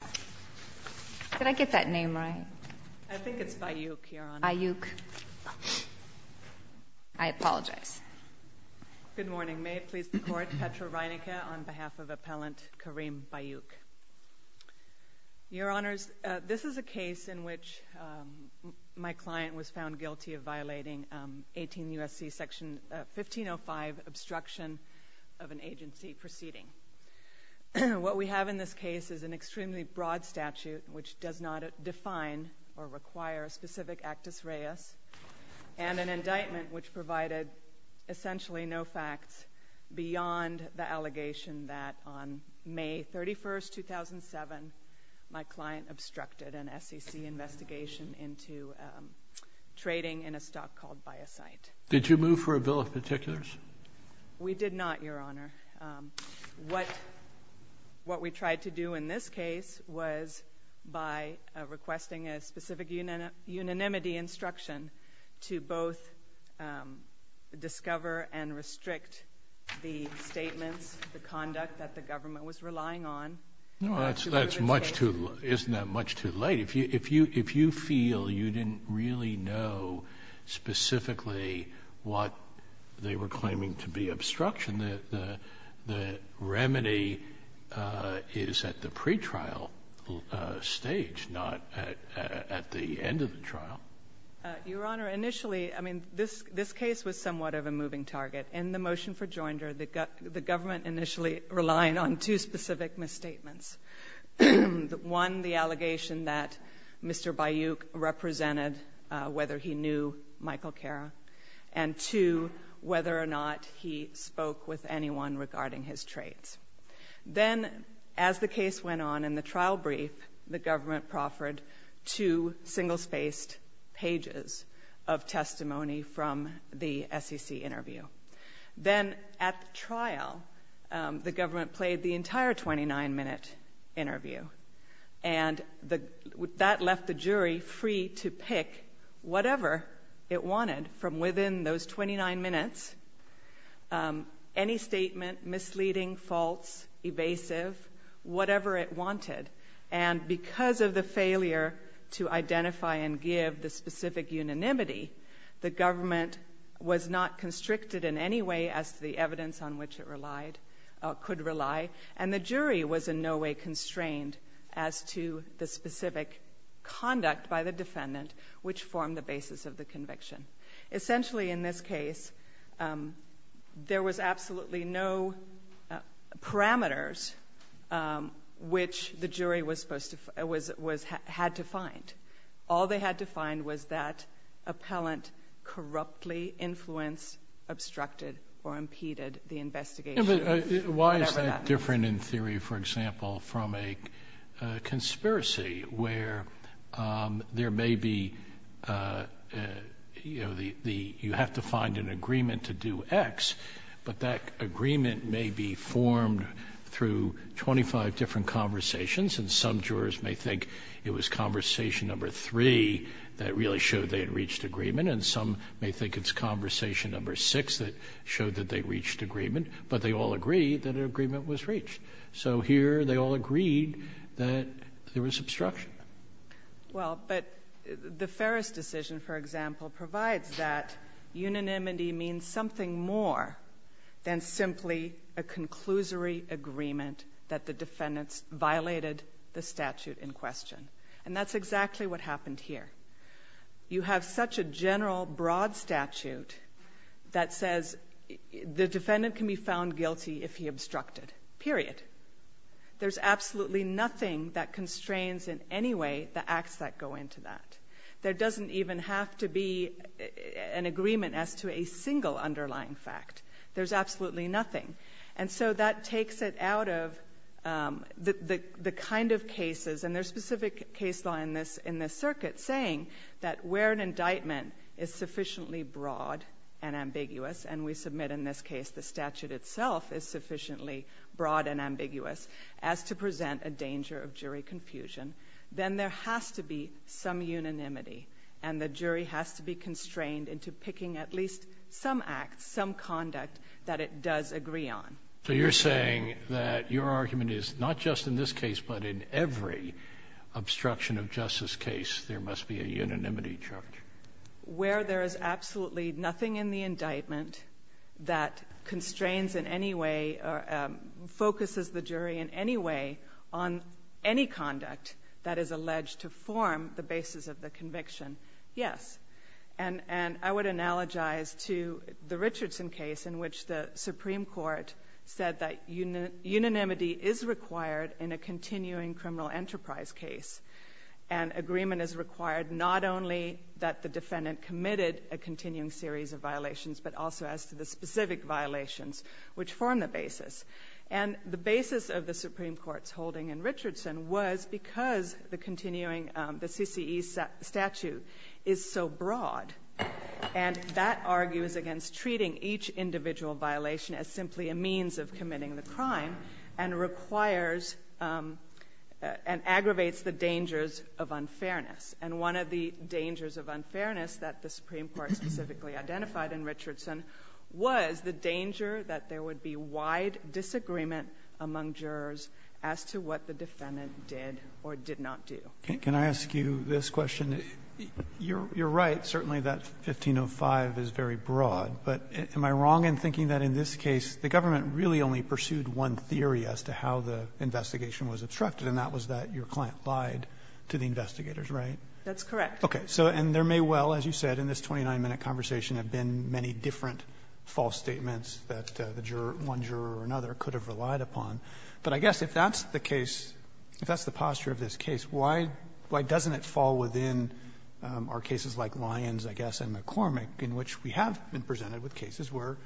Did I get that name right? I think it's Bayyouk, Your Honor. Bayyouk. I apologize. Good morning. May it please the Court, Petra Reinicke on behalf of Appellant Karim Bayyouk. Your Honors, this is a case in which my client was found guilty of violating 18 U.S.C. Section 1505, obstruction of an agency proceeding. What we have in this case is an extremely broad statute which does not define or require a specific actus reus and an indictment which provided essentially no facts beyond the allegation that on May 31, 2007, my client obstructed an SEC investigation into trading in a stock called Biocite. Did you move for a bill of particulars? We did not, Your Honor. What we tried to do in this case was by requesting a specific unanimity instruction to both discover and restrict the statements, the conduct that the government was relying on. Isn't that much too late? If you feel you didn't really know specifically what they were claiming to be obstruction, the remedy is at the pretrial stage, not at the end of the trial. Your Honor, initially, I mean, this case was somewhat of a moving target. In the motion for joinder, the government initially relied on two specific misstatements. One, the allegation that Mr. Bayouk represented whether he knew Michael Cara, and two, whether or not he spoke with anyone regarding his traits. Then, as the case went on in the trial brief, the government proffered two single-spaced pages of testimony from the SEC interview. Then, at the trial, the government played the entire 29-minute interview, and that left the jury free to pick whatever it wanted from within those 29 minutes, any statement, misleading, false, evasive, whatever it wanted. Because of the failure to identify and give the specific unanimity, the government was not constricted in any way as to the evidence on which it could rely, and the jury was in no way constrained as to the specific conduct by the defendant, which formed the basis of the conviction. Essentially, in this case, there was absolutely no parameters which the jury had to find. All they had to find was that appellant corruptly influenced, obstructed, or impeded the investigation. Why is that different in theory, for example, from a conspiracy where there may be, you know, you have to find an agreement to do X, but that agreement may be formed through 25 different conversations, and some jurors may think it was conversation number three that really showed they had reached agreement, and some may think it's conversation number six that showed that they reached agreement, but they all agreed that an agreement was reached. So here, they all agreed that there was obstruction. Well, but the Ferris decision, for example, provides that unanimity means something more than simply a conclusory agreement that the defendants violated the statute in question, and that's exactly what happened here. You have such a general, broad statute that says the defendant can be found guilty if he obstructed, period. There's absolutely nothing that constrains in any way the acts that go into that. There doesn't even have to be an agreement as to a single underlying fact. There's absolutely nothing, and so that takes it out of the kind of cases, and there's specific case law in this circuit saying that where an indictment is sufficiently broad and ambiguous, and we submit in this case the statute itself is sufficiently broad and ambiguous, as to present a danger of jury confusion, then there has to be some unanimity, and the jury has to be constrained into picking at least some act, some conduct that it does agree on. So you're saying that your argument is not just in this case, but in every obstruction of justice case, there must be a unanimity charge? Where there is absolutely nothing in the indictment that constrains in any way or focuses the jury in any way on any conduct that is alleged to form the basis of the conviction, yes. And I would analogize to the Richardson case in which the Supreme Court said that unanimity is required in a continuing criminal enterprise case, and agreement is required not only that the defendant committed a continuing series of violations, but also as to the specific violations which form the basis. And the basis of the Supreme Court's holding in Richardson was because the continuing, the CCE statute is so broad, and that argues against treating each individual violation as simply a means of committing the crime, and requires, and aggravates the dangers of unfairness. And one of the dangers of unfairness that the Supreme Court specifically identified in Richardson was the danger that there would be wide disagreement among jurors as to what the defendant did or did not do. Can I ask you this question? You're right, certainly that 1505 is very broad, but am I wrong in thinking that in this case the government really only pursued one theory as to how the investigation was obstructed, and that was that your client lied to the investigators, right? That's correct. Okay. So, and there may well, as you said, in this 29-minute conversation have been many different false statements that the juror, one juror or another, could have relied upon. But I guess if that's the case, if that's the posture of this case, why doesn't it fall within our cases like Lyons, I guess, and McCormick, in which we have been presented with cases where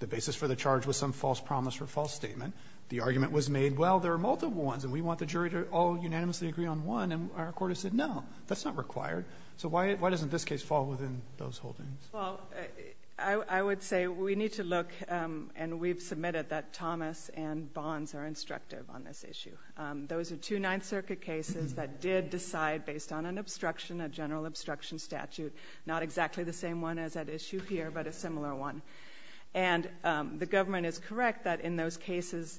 the basis for the charge was some false promise or false statement, the argument was made, well, there are multiple ones, and we want the jury to all unanimously agree on one, and our court has said, no, that's not required. So why doesn't this case fall within those holdings? Well, I would say we need to look, and we've submitted that Thomas and Bonds are instructive on this issue. Those are two Ninth Circuit cases that did decide based on an obstruction, a general obstruction statute, not exactly the same one as that issue here, but a similar one. And the government is correct that in those cases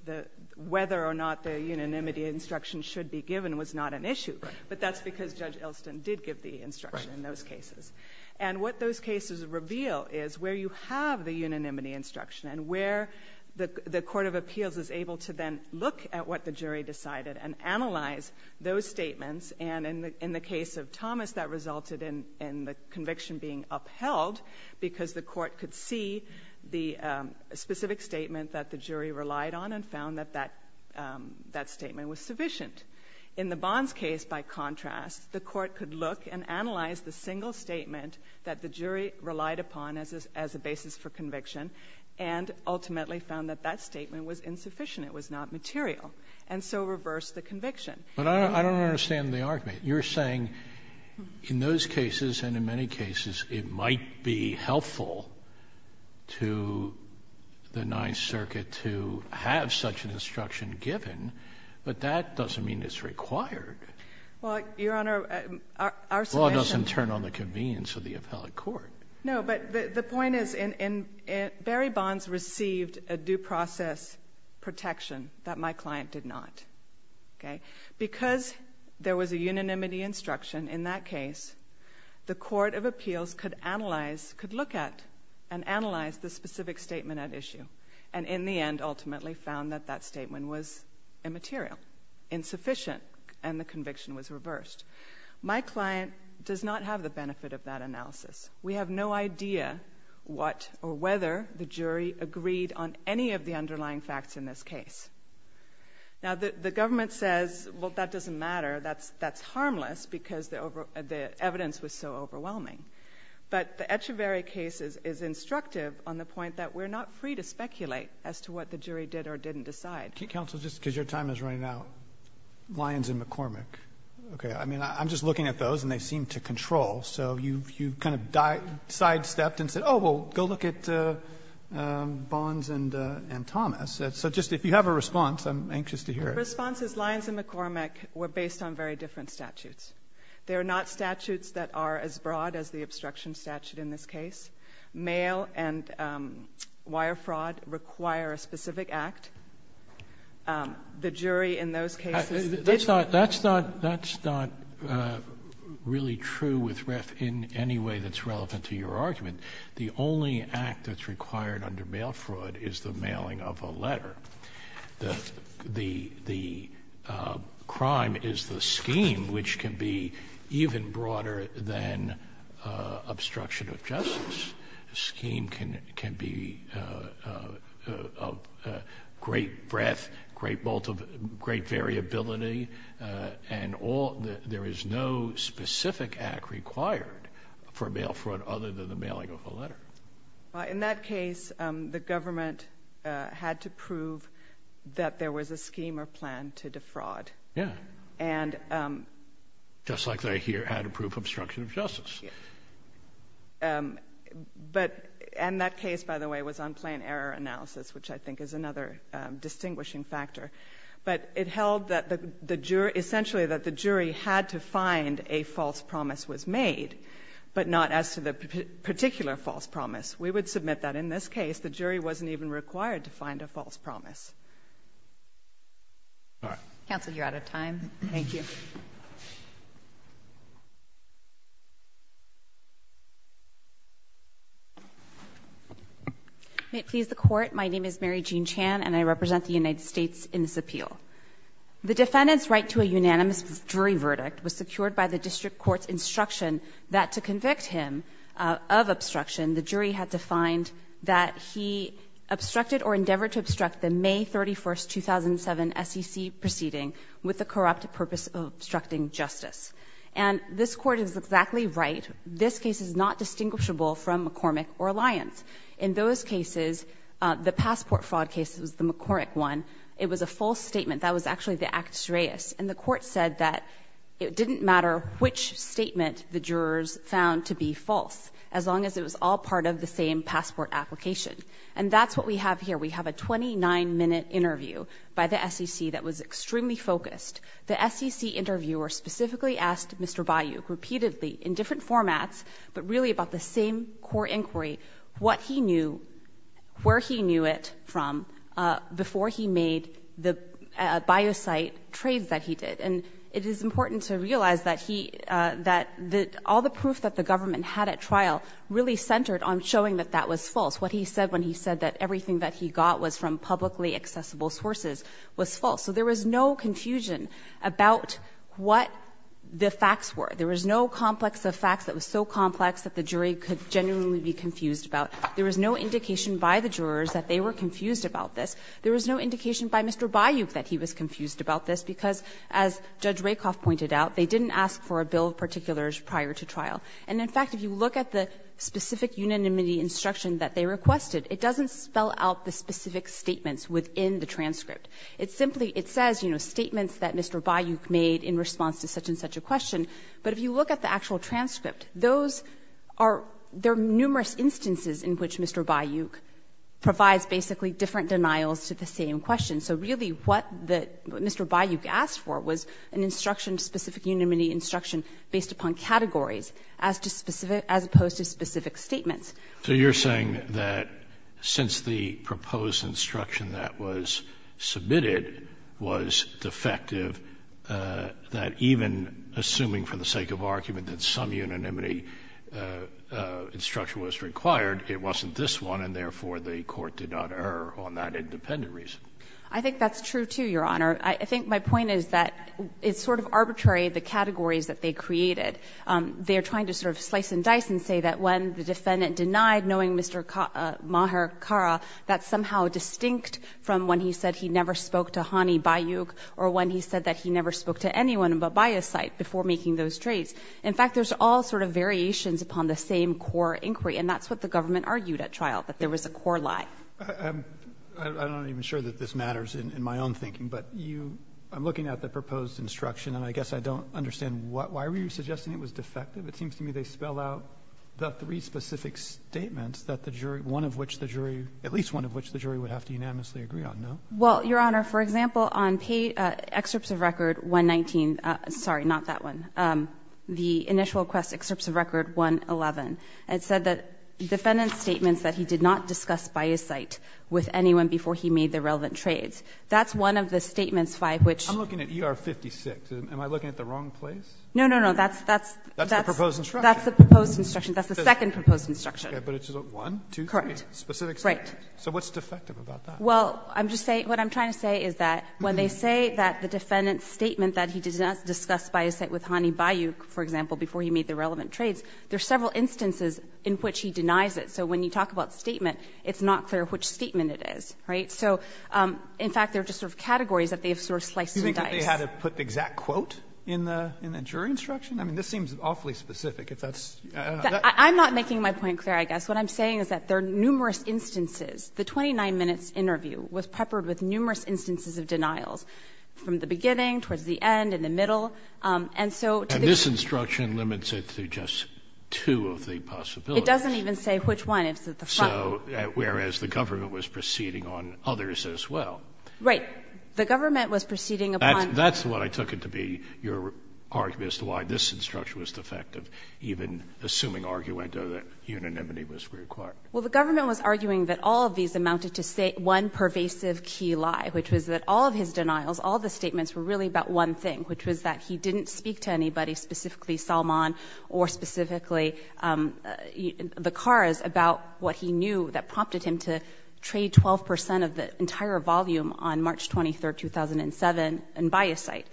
whether or not the unanimity instruction should be given was not an issue. But that's because Judge Elston did give the instruction in those cases. And what those cases reveal is where you have the unanimity instruction and where the Court of Appeals is able to then look at what the jury decided and analyze those statements. And in the case of Thomas, that resulted in the conviction being upheld because the court could see the specific statement that the jury relied on and found that that statement was sufficient. In the Bonds case, by contrast, the court could look and analyze the single statement that the jury relied upon as a basis for conviction and ultimately found that that statement was insufficient, it was not material, and so reversed the conviction. But I don't understand the argument. You're saying in those cases and in many cases it might be helpful to the Ninth Circuit to have a unanimity instruction given, but that doesn't mean it's required. Well, Your Honor, our solution— The law doesn't turn on the convenience of the appellate court. No, but the point is Barry Bonds received a due process protection that my client did not. Okay? Because there was a unanimity instruction in that case, the Court of Appeals could analyze, could look at and analyze the specific statement at issue and in the end ultimately found that that statement was immaterial, insufficient, and the conviction was reversed. My client does not have the benefit of that analysis. We have no idea what or whether the jury agreed on any of the underlying facts in this case. Now, the government says, well, that doesn't matter. That's harmless because the evidence was so overwhelming. But the Echeveria case is instructive on the point that we're not free to speculate as to what the jury did or didn't decide. Counsel, just because your time is running out, Lyons and McCormick. Okay. I mean, I'm just looking at those and they seem to control. So you kind of sidestepped and said, oh, well, go look at Bonds and Thomas. So just if you have a response, I'm anxious to hear it. The response is Lyons and McCormick were based on very different statutes. They are not statutes that are as broad as the obstruction statute in this case. Mail and wire fraud require a specific act. The jury in those cases. That's not really true with REF in any way that's relevant to your argument. The only act that's required under mail fraud is the mailing of a letter. The crime is the scheme, which can be even broader than obstruction of justice. The scheme can be of great breadth, great variability, and there is no specific act required for mail fraud other than the mailing of a letter. In that case, the government had to prove that there was a scheme or plan to defraud. Yeah. And. Just like they here had a proof of obstruction of justice. But in that case, by the way, was on plain error analysis, which I think is another distinguishing factor. But it held that the jury essentially that the jury had to find a false promise was made, but not as to the particular false promise. We would submit that in this case, the jury wasn't even required to find a false promise. All right. Counsel, you're out of time. Thank you. May it please the court. My name is Mary Jean Chan, and I represent the United States in this appeal. The defendant's right to a unanimous jury verdict was secured by the district court's instruction that to convict him of obstruction, the jury had to find that he obstructed or endeavored to obstruct the May 31, 2007, SEC proceeding with the corrupt purpose of obstructing justice. And this court is exactly right. This case is not distinguishable from McCormick or Lyons. In those cases, the passport fraud case was the McCormick one. It was a false statement. That was actually the actus reus. And the court said that it didn't matter which statement the jurors found to be false, as long as it was all part of the same passport application. And that's what we have here. We have a 29-minute interview by the SEC that was extremely focused. The SEC interviewer specifically asked Mr. Bayouk repeatedly in different formats, but really about the same core inquiry, what he knew, where he knew it from, before he made the bio-site trades that he did. And it is important to realize that all the proof that the government had at trial really centered on showing that that was false. What he said when he said that everything that he got was from publicly accessible sources was false. So there was no confusion about what the facts were. There was no complex of facts that was so complex that the jury could genuinely be confused about. There was no indication by the jurors that they were confused about this. There was no indication by Mr. Bayouk that he was confused about this, because as Judge Rakoff pointed out, they didn't ask for a bill of particulars prior to trial. And in fact, if you look at the specific unanimity instruction that they requested, it doesn't spell out the specific statements within the transcript. It simply, it says, you know, statements that Mr. Bayouk made in response to such a question. But if you look at the actual transcript, those are, there are numerous instances in which Mr. Bayouk provides basically different denials to the same question. So really what the, what Mr. Bayouk asked for was an instruction, specific unanimity instruction based upon categories as to specific, as opposed to specific statements. So you're saying that since the proposed instruction that was submitted was defective, that even assuming for the sake of argument that some unanimity instruction was required, it wasn't this one, and therefore the Court did not err on that independent reason? I think that's true, too, Your Honor. I think my point is that it's sort of arbitrary, the categories that they created. They are trying to sort of slice and dice and say that when the defendant denied knowing Mr. Maher Khara, that's somehow distinct from when he said he never spoke to Hani Bayouk or when he said that he never spoke to anyone but by his side before making those traits. In fact, there's all sort of variations upon the same core inquiry, and that's what the government argued at trial, that there was a core lie. I'm not even sure that this matters in my own thinking, but you, I'm looking at the proposed instruction, and I guess I don't understand why were you suggesting it was defective? It seems to me they spell out the three specific statements that the jury, one of which the jury, at least one of which the jury would have to unanimously agree with. Well, Your Honor, for example, on page, excerpts of record 119, sorry, not that one, the initial request, excerpts of record 111, it said that defendant's statements that he did not discuss by his side with anyone before he made the relevant traits, that's one of the statements five which. I'm looking at ER 56. Am I looking at the wrong place? No, no, no. That's, that's, that's. That's the proposed instruction. That's the proposed instruction. That's the second proposed instruction. Okay. But it's one, two, three. Correct. Specific statements. Right. So what's defective about that? Well, I'm just saying, what I'm trying to say is that when they say that the defendant's statement that he did not discuss by his side with Hany Bayou, for example, before he made the relevant traits, there are several instances in which he denies it. So when you talk about statement, it's not clear which statement it is, right? So in fact, they're just sort of categories that they have sort of sliced through dice. You think that they had to put the exact quote in the, in the jury instruction? I mean, this seems awfully specific if that's, I don't know. I'm not making my point clear, I guess. What I'm saying is that there are numerous instances. The 29 minutes interview was peppered with numerous instances of denials, from the beginning, towards the end, in the middle. And so to the jury. And this instruction limits it to just two of the possibilities. It doesn't even say which one. It's at the front row. So whereas the government was proceeding on others as well. Right. The government was proceeding upon. That's what I took it to be, your argument as to why this instruction was defective, even assuming argument that unanimity was required. Well, the government was arguing that all of these amounted to say one pervasive key lie, which was that all of his denials, all the statements were really about one thing, which was that he didn't speak to anybody specifically Salman or specifically the cars about what he knew that prompted him to trade 12 percent of the entire volume on March 23rd, 2007 and buy a site.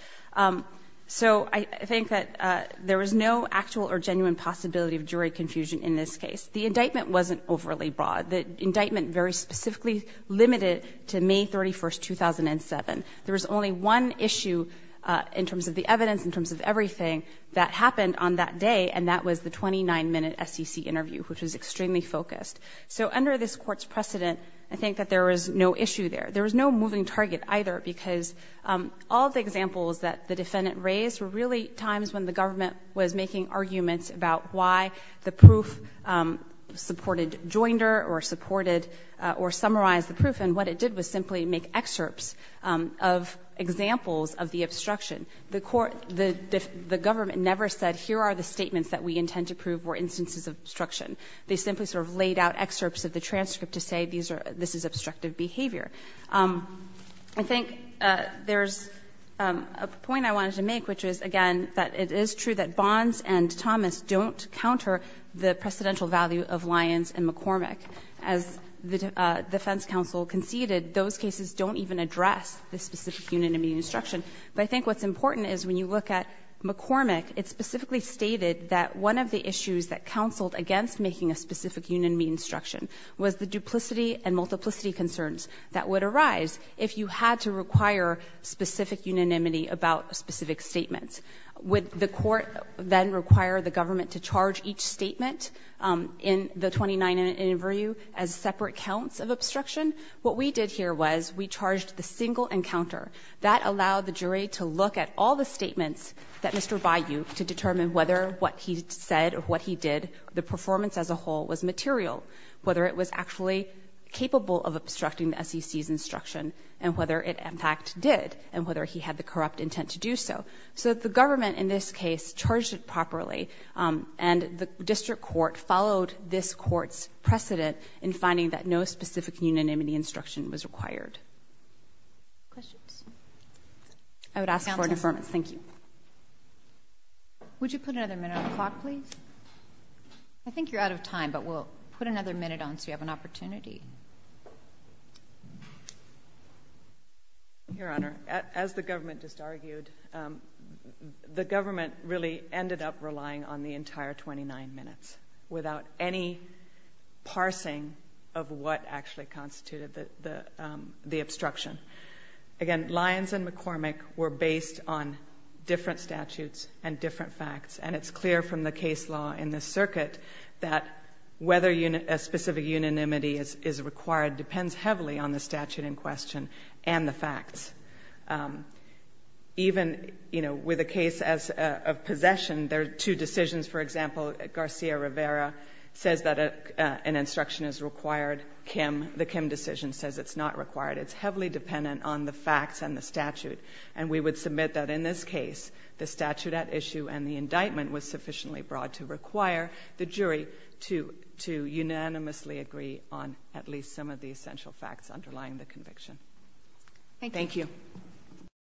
So I think that there was no actual or genuine possibility of jury confusion in this case. The indictment wasn't overly broad. The indictment very specifically limited to May 31st, 2007. There was only one issue in terms of the evidence, in terms of everything that happened on that day, and that was the 29 minute SEC interview, which was extremely focused. So under this court's precedent, I think that there was no issue there. There was no moving target either because all the examples that the defendant raised were really times when the government was making arguments about why the proof supported Joinder or supported or summarized the proof. And what it did was simply make excerpts of examples of the obstruction. The government never said here are the statements that we intend to prove were instances of obstruction. They simply sort of laid out excerpts of the transcript to say this is obstructive behavior. I think there's a point I wanted to make, which is, again, that it is true that Bonds and Thomas don't counter the precedential value of Lyons and McCormick. As the defense counsel conceded, those cases don't even address the specific unanimity instruction. But I think what's important is when you look at McCormick, it specifically stated that one of the issues that counseled against making a specific unanimity instruction was the duplicity and multiplicity concerns that would arise if you had to require specific unanimity about specific statements. Would the court then require the government to charge each statement in the 29 interview as separate counts of obstruction? What we did here was we charged the single encounter. That allowed the jury to look at all the statements that Mr. Bayou, to determine whether what he said or what he did, the performance as a whole, was material, whether it was actually capable of obstructing the SEC's instruction, and whether it, in fact, did, and whether he had the corrupt intent to do so. So the government, in this case, charged it properly, and the district court followed this court's precedent in finding that no specific unanimity instruction was required. Questions? I would ask for an affirmative. Thank you. Would you put another minute on the clock, please? I think you're out of time, but we'll put another minute on so you have an opportunity. Your Honor, as the government just argued, the government really ended up relying on the entire 29 minutes without any parsing of what actually constituted the obstruction. Again, Lyons and McCormick were based on different statutes and different facts, and it's clear from the case law in this circuit that whether a specific unanimity is required depends heavily on the statute in question and the facts. Even with a case of possession, there are two decisions. For example, Garcia-Rivera says that an instruction is required. The Kim decision says it's not required. It's heavily dependent on the facts and the statute, and we would submit that in this case, the statute at issue and the indictment was sufficiently broad to require the jury to unanimously agree on at least some of the essential facts underlying the conviction. Thank you.